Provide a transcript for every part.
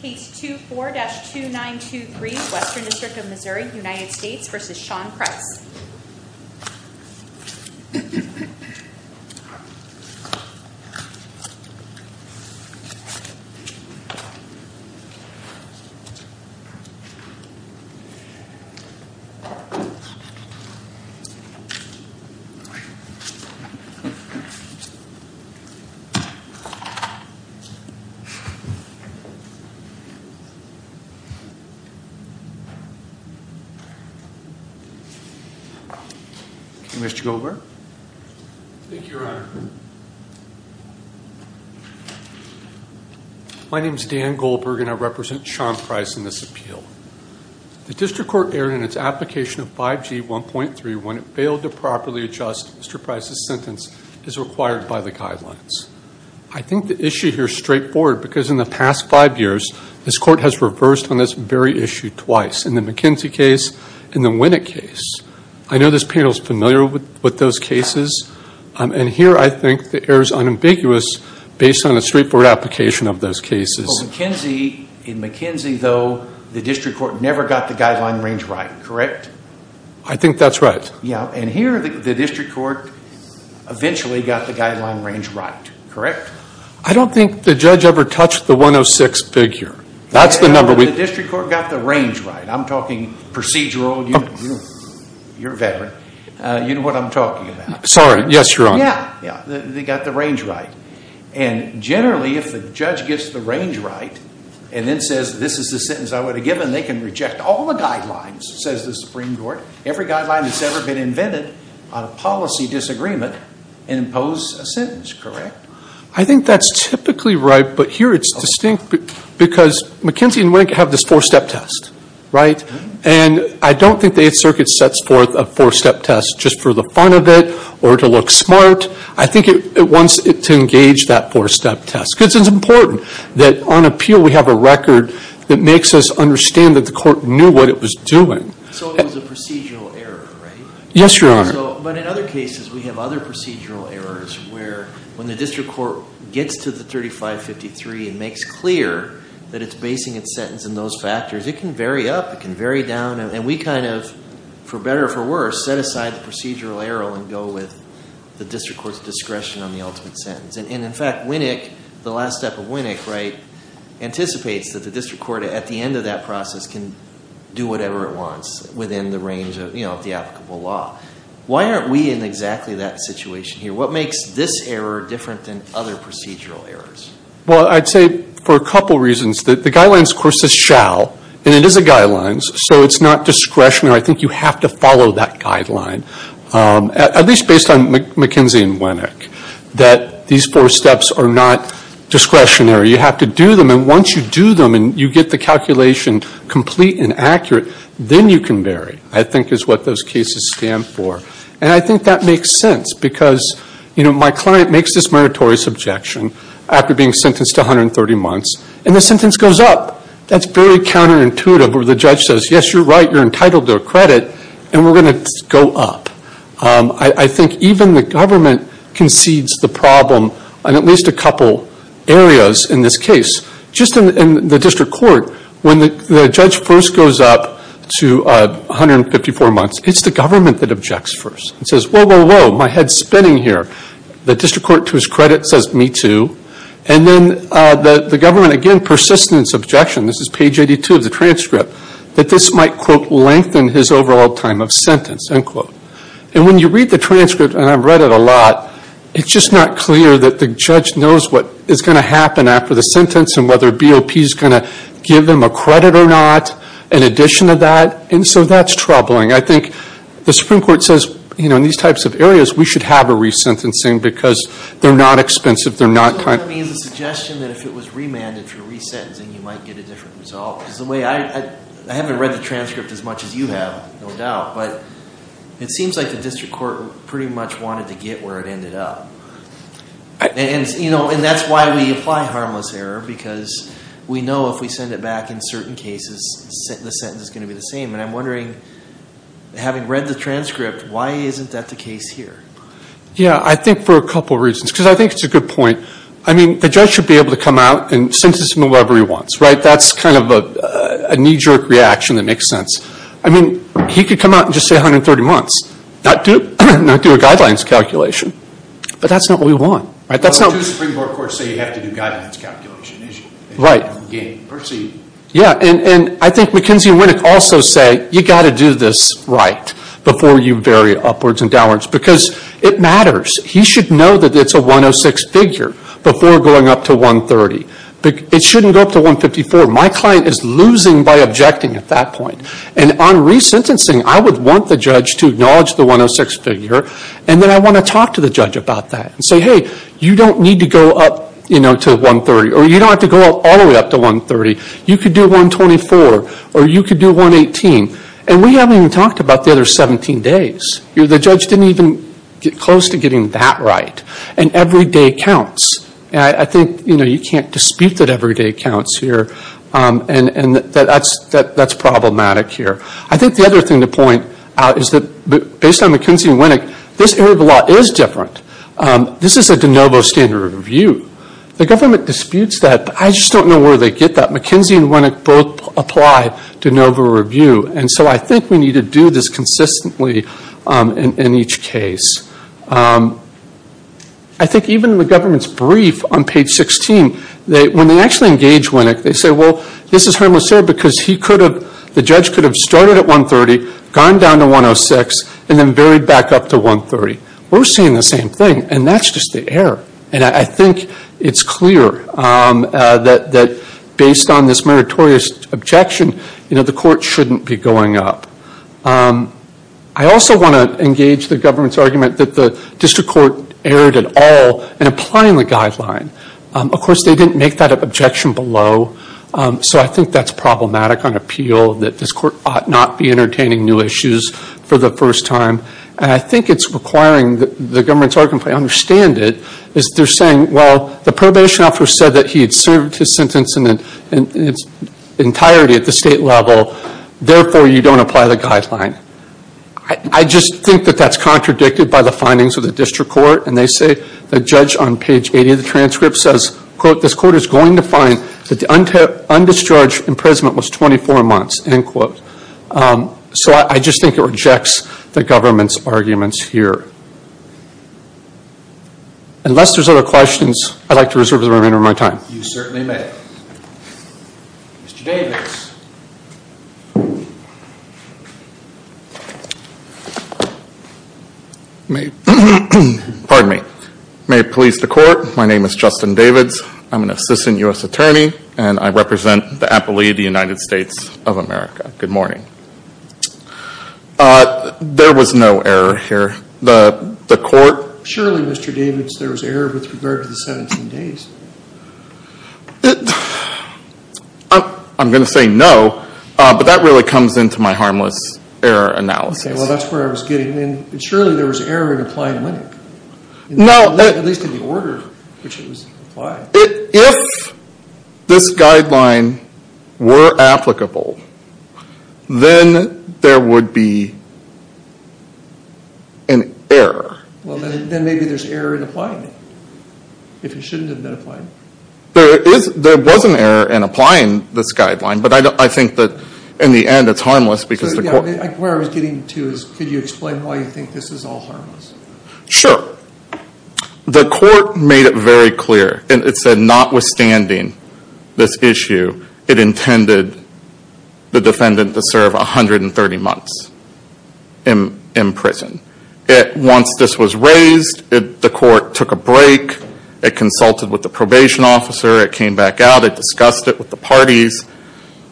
Case 24-2923, Western District of Missouri, United States v. Shaune Price My name is Dan Goldberg and I represent Shaune Price in this appeal. The District Court erred in its application of 5G 1.3 when it failed to properly adjust Mr. Price's sentence by the guidelines. I think the issue here is straightforward because in the past five years this Court has reversed on this very issue twice, in the McKinsey case and the Winnick case. I know this panel is familiar with those cases and here I think the error is unambiguous based on a straightforward application of those cases. Well McKinsey, in McKinsey though, the District Court never got the guideline range right, correct? I think that's right. Yes, and here the District Court eventually got the guideline range right, correct? I don't think the judge ever touched the 106 figure. That's the number we The District Court got the range right. I'm talking procedural, you're a veteran, you know what I'm talking about. Sorry, yes, Your Honor. Yes, they got the range right. And generally if the judge gets the range right and then says this is the sentence I would have given, they can reject all the guidelines, says the Supreme Court, every guideline that's ever been invented on a policy disagreement and impose a sentence, correct? I think that's typically right but here it's distinct because McKinsey and Winnick have this four step test, right? And I don't think the Eighth Circuit sets forth a four step test just for the fun of it or to look smart. I think it wants it to engage that four step test because it's important that on appeal we have a record that makes us understand that the Court knew what it was doing. So it was a procedural error, right? Yes, Your Honor. But in other cases we have other procedural errors where when the District Court gets to the 3553 and makes clear that it's basing its sentence on those factors, it can vary up, it can vary down and we kind of, for better or for worse, set aside the procedural error and go with the District Court's discretion on the ultimate sentence. And in fact, Winnick, the last step of Winnick, anticipates that the District Court at the end of that process can do whatever it wants within the range of the applicable law. Why aren't we in exactly that situation here? What makes this error different than other procedural errors? Well, I'd say for a couple reasons. The guidelines, of course, says shall and it is a guidelines so it's not discretionary. I think you have to follow that guideline, at least based on McKinsey and Winnick, that these four steps are not discretionary. You have to do them and once you do them and you get the calculation complete and accurate, then you can vary, I think is what those cases stand for. And I think that makes sense because, you know, my client makes this meritorious objection after being sentenced to 130 months and the sentence goes up. That's very counterintuitive where the judge says, yes, you're right, you're entitled to a credit and we're going to go up. I think even the government concedes the problem in at least a couple areas in this case. Just in the district court, when the judge first goes up to 154 months, it's the government that objects first. It says, whoa, whoa, whoa, my head's spinning here. The district court, to his credit, says me too. And then the government, again, persists in its objection. This is page 82 of the transcript that this might quote lengthen his overall time of sentence, unquote. And when you read the transcript, and I've read it a lot, it's just not clear that the judge knows what is going to happen after the sentence and whether BOP is going to give them a credit or not, in addition to that. And so that's troubling. I think the Supreme Court says, you know, in these types of areas, we should have a resentencing because they're not expensive, they're not kind of... So that means a suggestion that if it was remanded for resentencing, you might get a different result. Because the way I... I haven't read the transcript as much as you have, no It seems like the district court pretty much wanted to get where it ended up. And that's why we apply harmless error, because we know if we send it back in certain cases, the sentence is going to be the same. And I'm wondering, having read the transcript, why isn't that the case here? Yeah, I think for a couple of reasons. Because I think it's a good point. I mean, the judge should be able to come out and sentence him however he wants, right? That's kind of a knee-jerk reaction that makes sense. I mean, he could come out and just say 130 months. Not do a guidelines calculation. But that's not what we want, right? That's not... Well, the two Supreme Court courts say you have to do guidelines calculation, isn't it? Right. Again, per se... Yeah, and I think McKenzie and Winnick also say, you've got to do this right before you vary upwards and downwards. Because it matters. He should know that it's a 106 figure before going up to 130. It shouldn't go up to 154. My client is losing by objecting at that point. And on re-sentencing, I would want the judge to acknowledge the 106 figure, and then I want to talk to the judge about that. And say, hey, you don't need to go up to 130. Or you don't have to go all the way up to 130. You could do 124. Or you could do 118. And we haven't even talked about the other 17 days. The judge didn't even get close to getting that right. And every day counts. And I think, you know, you can't dispute that every day counts here. And that's problematic here. I think the other thing to point out is that based on McKenzie and Winnick, this area of the law is different. This is a de novo standard review. The government disputes that. I just don't know where they get that. McKenzie and Winnick both apply de novo review. And so I think we need to do this consistently in each case. I think even in the government's brief on page 16, when they actually engage Winnick, they say, well, this is harmless error because the judge could have started at 130, gone down to 106, and then varied back up to 130. We're seeing the same thing. And that's just the error. And I think it's clear that based on this meritorious objection, the court shouldn't be going up. I also want to engage the government's argument that the district court erred at all in applying the guideline. Of course, they didn't make that objection below. So I think that's problematic on appeal, that this court ought not be entertaining new issues for the first time. And I think it's requiring the government's argument, if I understand it, is they're saying, well, the probation officer said that he had served his sentence in its entirety at the state level. Therefore, you don't apply the guideline. I just think that that's contradicted by the findings of the district court. And they say the judge on page 80 of the transcript says, quote, this court is going to find that the undischarged imprisonment was 24 months, end quote. So I just think it rejects the government's arguments here. Unless there's other questions, I'd like to reserve the remainder of my time. You certainly may. Mr. Davids. Pardon me. May it please the court, my name is Justin Davids. I'm an assistant U.S. attorney and I represent the appellee of the United States of America. Good morning. There was no error here. The court said, well, surely, Mr. Davids, there was error with regard to the 17 days. I'm going to say no, but that really comes into my harmless error analysis. Okay, well, that's where I was getting in. Surely there was error in applying LENC. At least in the order in which it was applied. If this guideline were applicable, then there would be an error. Well, then maybe there's error in applying it, if it shouldn't have been applied. There was an error in applying this guideline, but I think that in the end, it's harmless because the court... Where I was getting to is, could you explain why you think this is all harmless? Sure. The court made it very clear. It said, notwithstanding this issue, it intended the defendant to serve 130 months in prison. Once this was raised, the court took a break. It consulted with the probation officer. It came back out. It discussed it with the parties,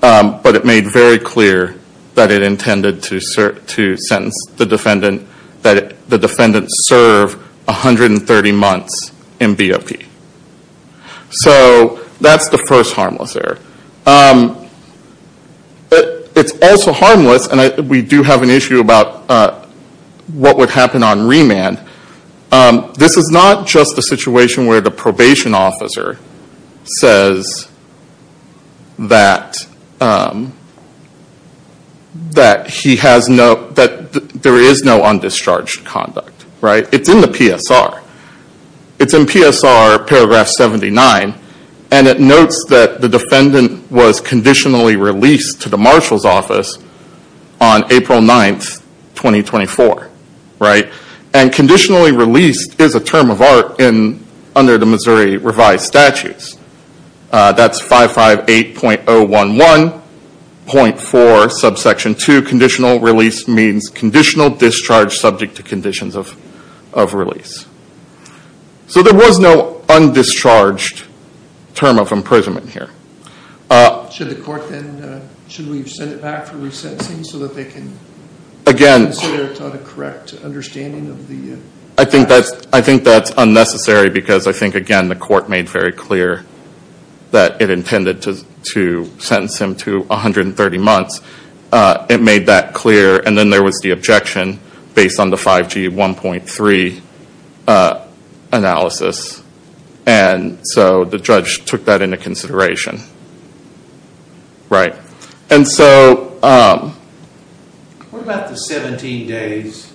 but it made very clear that it intended to sentence the defendant, that the defendant serve 130 months in BOP. That's the first harmless error. It's also harmless, and we do have an issue about what would happen on remand. This is not just a situation where the probation officer says that there is no undischarged conduct. It's in the PSR. It's in PSR paragraph 79, and it notes that the defendant was conditionally released to the marshal's office on April 9th, 2024. Conditionally released is a term of art under the Missouri revised statutes. That's 558.011.4, subsection 2, conditional release means conditional discharge subject to conditions of release. There was no undischarged term of imprisonment here. Should the court then, should we send it back for re-sentencing so that they can consider it on a correct understanding of the... I think that's unnecessary because I think, again, the court made very clear that it intended to sentence him to 130 months. It made that clear, and then there was the objection based on the 5G 1.3 analysis, and so the judge took that into consideration. And so... What about the 17 days?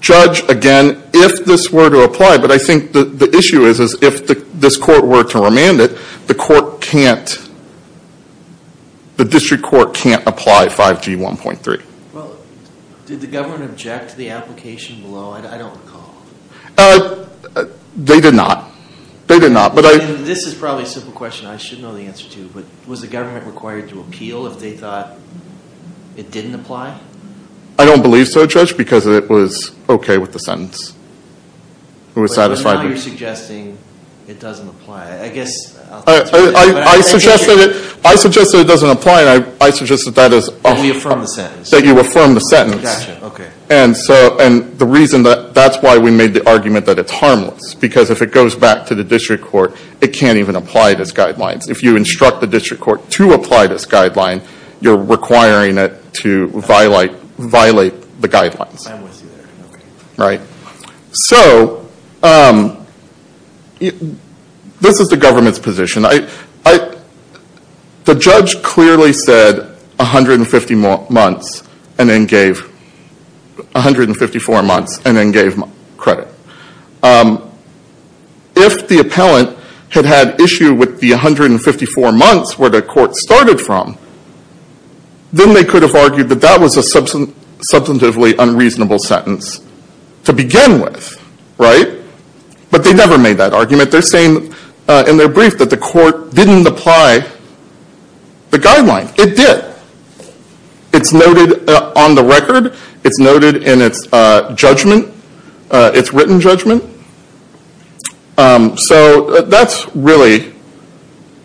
Judge, again, if this were to apply, but I think the issue is if this court were to remand it, the court can't, the district court can't apply 5G 1.3. Did the government object to the application below? I don't recall. They did not. They did not, but I... This is probably a simple question I should know the answer to, but was the government required to appeal if they thought it didn't apply? I don't believe so, Judge, because it was okay with the sentence. It was satisfied... So now you're suggesting it doesn't apply. I guess... I suggested it doesn't apply, and I suggested that is... That we affirm the sentence. That you affirm the sentence. Gotcha, okay. And so, and the reason that's why we made the argument that it's harmless, because if it goes back to the district court, it can't even apply those guidelines. If you instruct the district court to apply this guideline, you're requiring it to violate the guidelines. I'm with you there. Right. So, this is the government's position. The judge clearly said 150 months, and then gave 154 months, and then gave credit. If the appellant had had issue with the 154 months where the court started from, then they could have argued that that was a substantively unreasonable sentence to begin with, right? But they never made that argument. They're saying in their brief that the court didn't apply the guideline. It did. It's noted on the record. It's noted in its judgment, its written judgment. So, that's really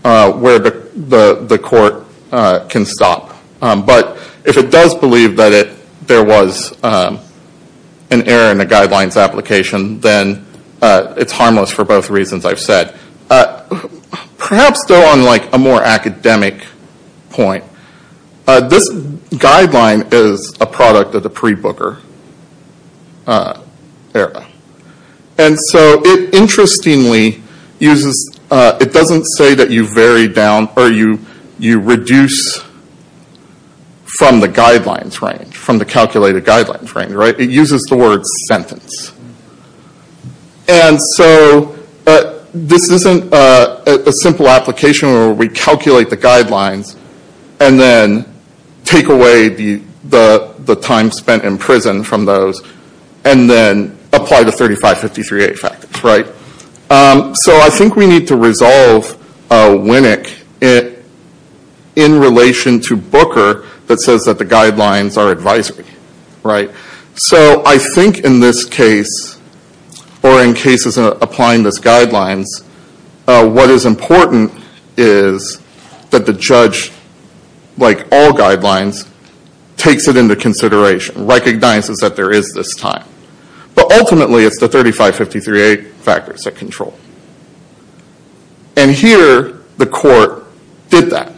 where the court can stop. But if it does believe that there was an error in the guidelines application, then it's harmless for both reasons I've said. Perhaps though on like a more academic point, this guideline is a product of the pre-Booker era. And so, it interestingly uses, it doesn't say that you vary down, or you reduce from the guidelines range, from the calculated guidelines range, right? It uses the word sentence. And so, this isn't a simple application where we calculate the guidelines, and then take away the time spent in prison from those, and then apply the 3553A factors, right? So I think we need to resolve Winnick in relation to Booker that says that the guidelines are advisory, right? So, I think in this case, or in cases applying this guidelines, what is important is that the judge, like all guidelines, takes it into consideration, recognizes that there is this time. But ultimately, it's the 3553A factors that control. And here, the court did that.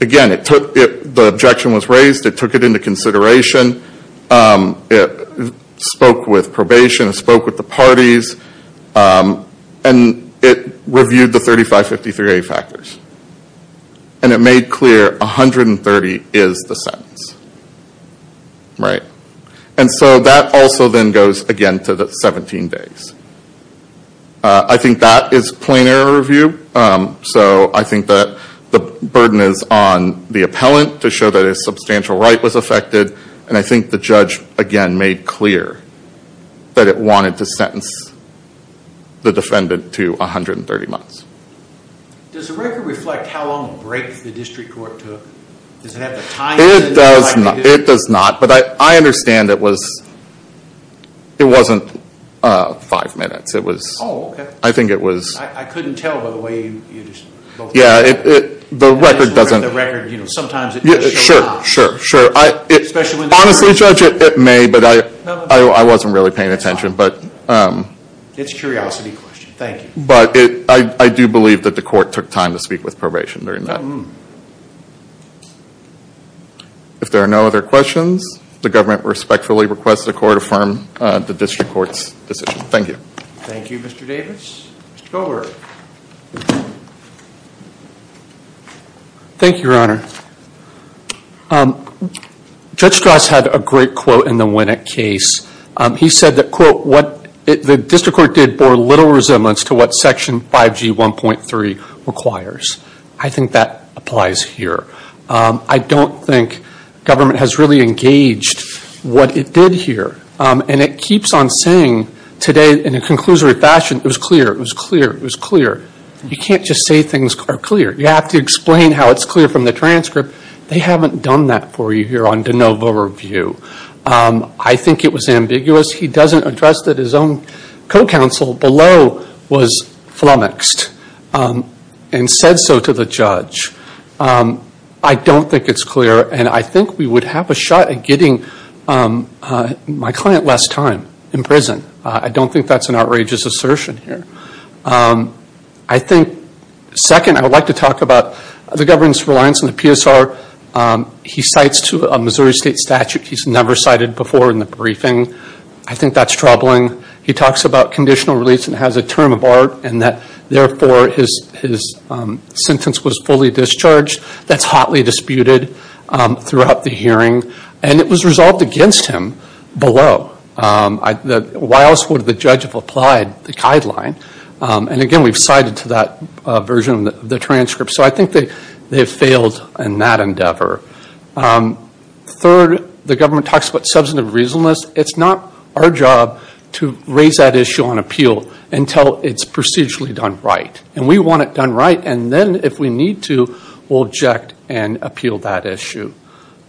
Again, the objection was raised. It took it into consideration. It spoke with probation. It spoke with the parties. And it reviewed the 3553A factors. And it made clear 130 is the sentence, right? And so, that also then goes, again, to the 17 days. I think that is plain error review. So, I think that the burden is on the appellant to show that a substantial right was affected. And I think the judge, again, made clear that it wanted to sentence the defendant to 130 months. Does the record reflect how long a break the district court took? Does it have the time in it? It does not. But I understand it wasn't five minutes. Oh, okay. I think it was... I couldn't tell by the way you just both... Yeah, the record doesn't... The record, you know, sometimes it doesn't show up. Sure, sure, sure. Especially when... Honestly, Judge, it may, but I wasn't really paying attention, but... It's a curiosity question. Thank you. But I do believe that the court took time to speak with probation during that. If there are no other questions, the government respectfully requests the court affirm the district court's decision. Thank you. Thank you, Mr. Davis. Mr. Goldberg. Thank you, Your Honor. Judge Strauss had a great quote in the Winnick case. He said that, quote, the district court did bore little resemblance to what Section 5G 1.3 requires. I think that applies here. I don't think government has really engaged what it did here. It keeps on saying today in a conclusory fashion, it was clear, it was clear, it was clear. You can't just say things are clear. You have to explain how it's clear from the transcript. They haven't done that for you here on de novo review. I think it was ambiguous. He doesn't address that his own co-counsel below was flummoxed and said so to the judge. I don't think it's clear and I think we would have a shot at getting my client less time in prison. I don't think that's an outrageous assertion here. I think, second, I would like to talk about the government's reliance on the PSR. He cites to a Missouri State statute he's never cited before in the briefing. I think that's troubling. He talks about conditional release and has a term of art and that, therefore, his sentence was fully discharged. That's hotly disputed throughout the hearing and it was resolved against him below. Why else would the judge have applied the guideline? Again, we've cited to that version of the transcript. I think they have failed in that endeavor. Third, the government talks about substantive reasonableness. It's not our job to raise that issue on appeal until it's procedurally done right. We want it done right and then if we need to, we'll object and appeal that issue.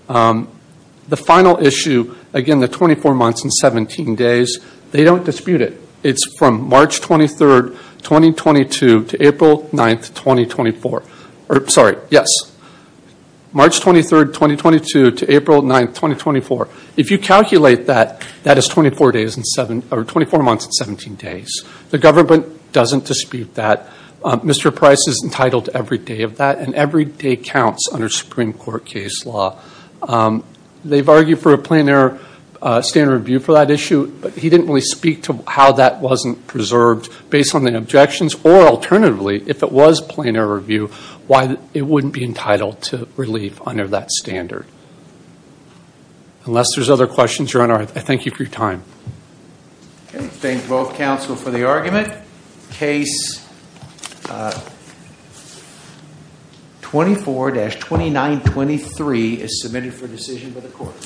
The final issue, again, the 24 months and 17 days, they don't dispute it. It's from March 23, 2022 to April 9, 2024. If you calculate that, that is 24 months and 17 days. The government doesn't dispute that. Mr. Price is entitled to every day of that and every day counts under Supreme Court case law. They've argued for a plain air standard review for that issue but he didn't really speak to how that wasn't preserved based on the objections or, alternatively, if it was plain air review, why it wouldn't be entitled to relief under that standard. Unless there's other questions, Your Honor, I thank you for your time. I thank both counsel for the argument. Case 24-2923 is submitted for decision by the court.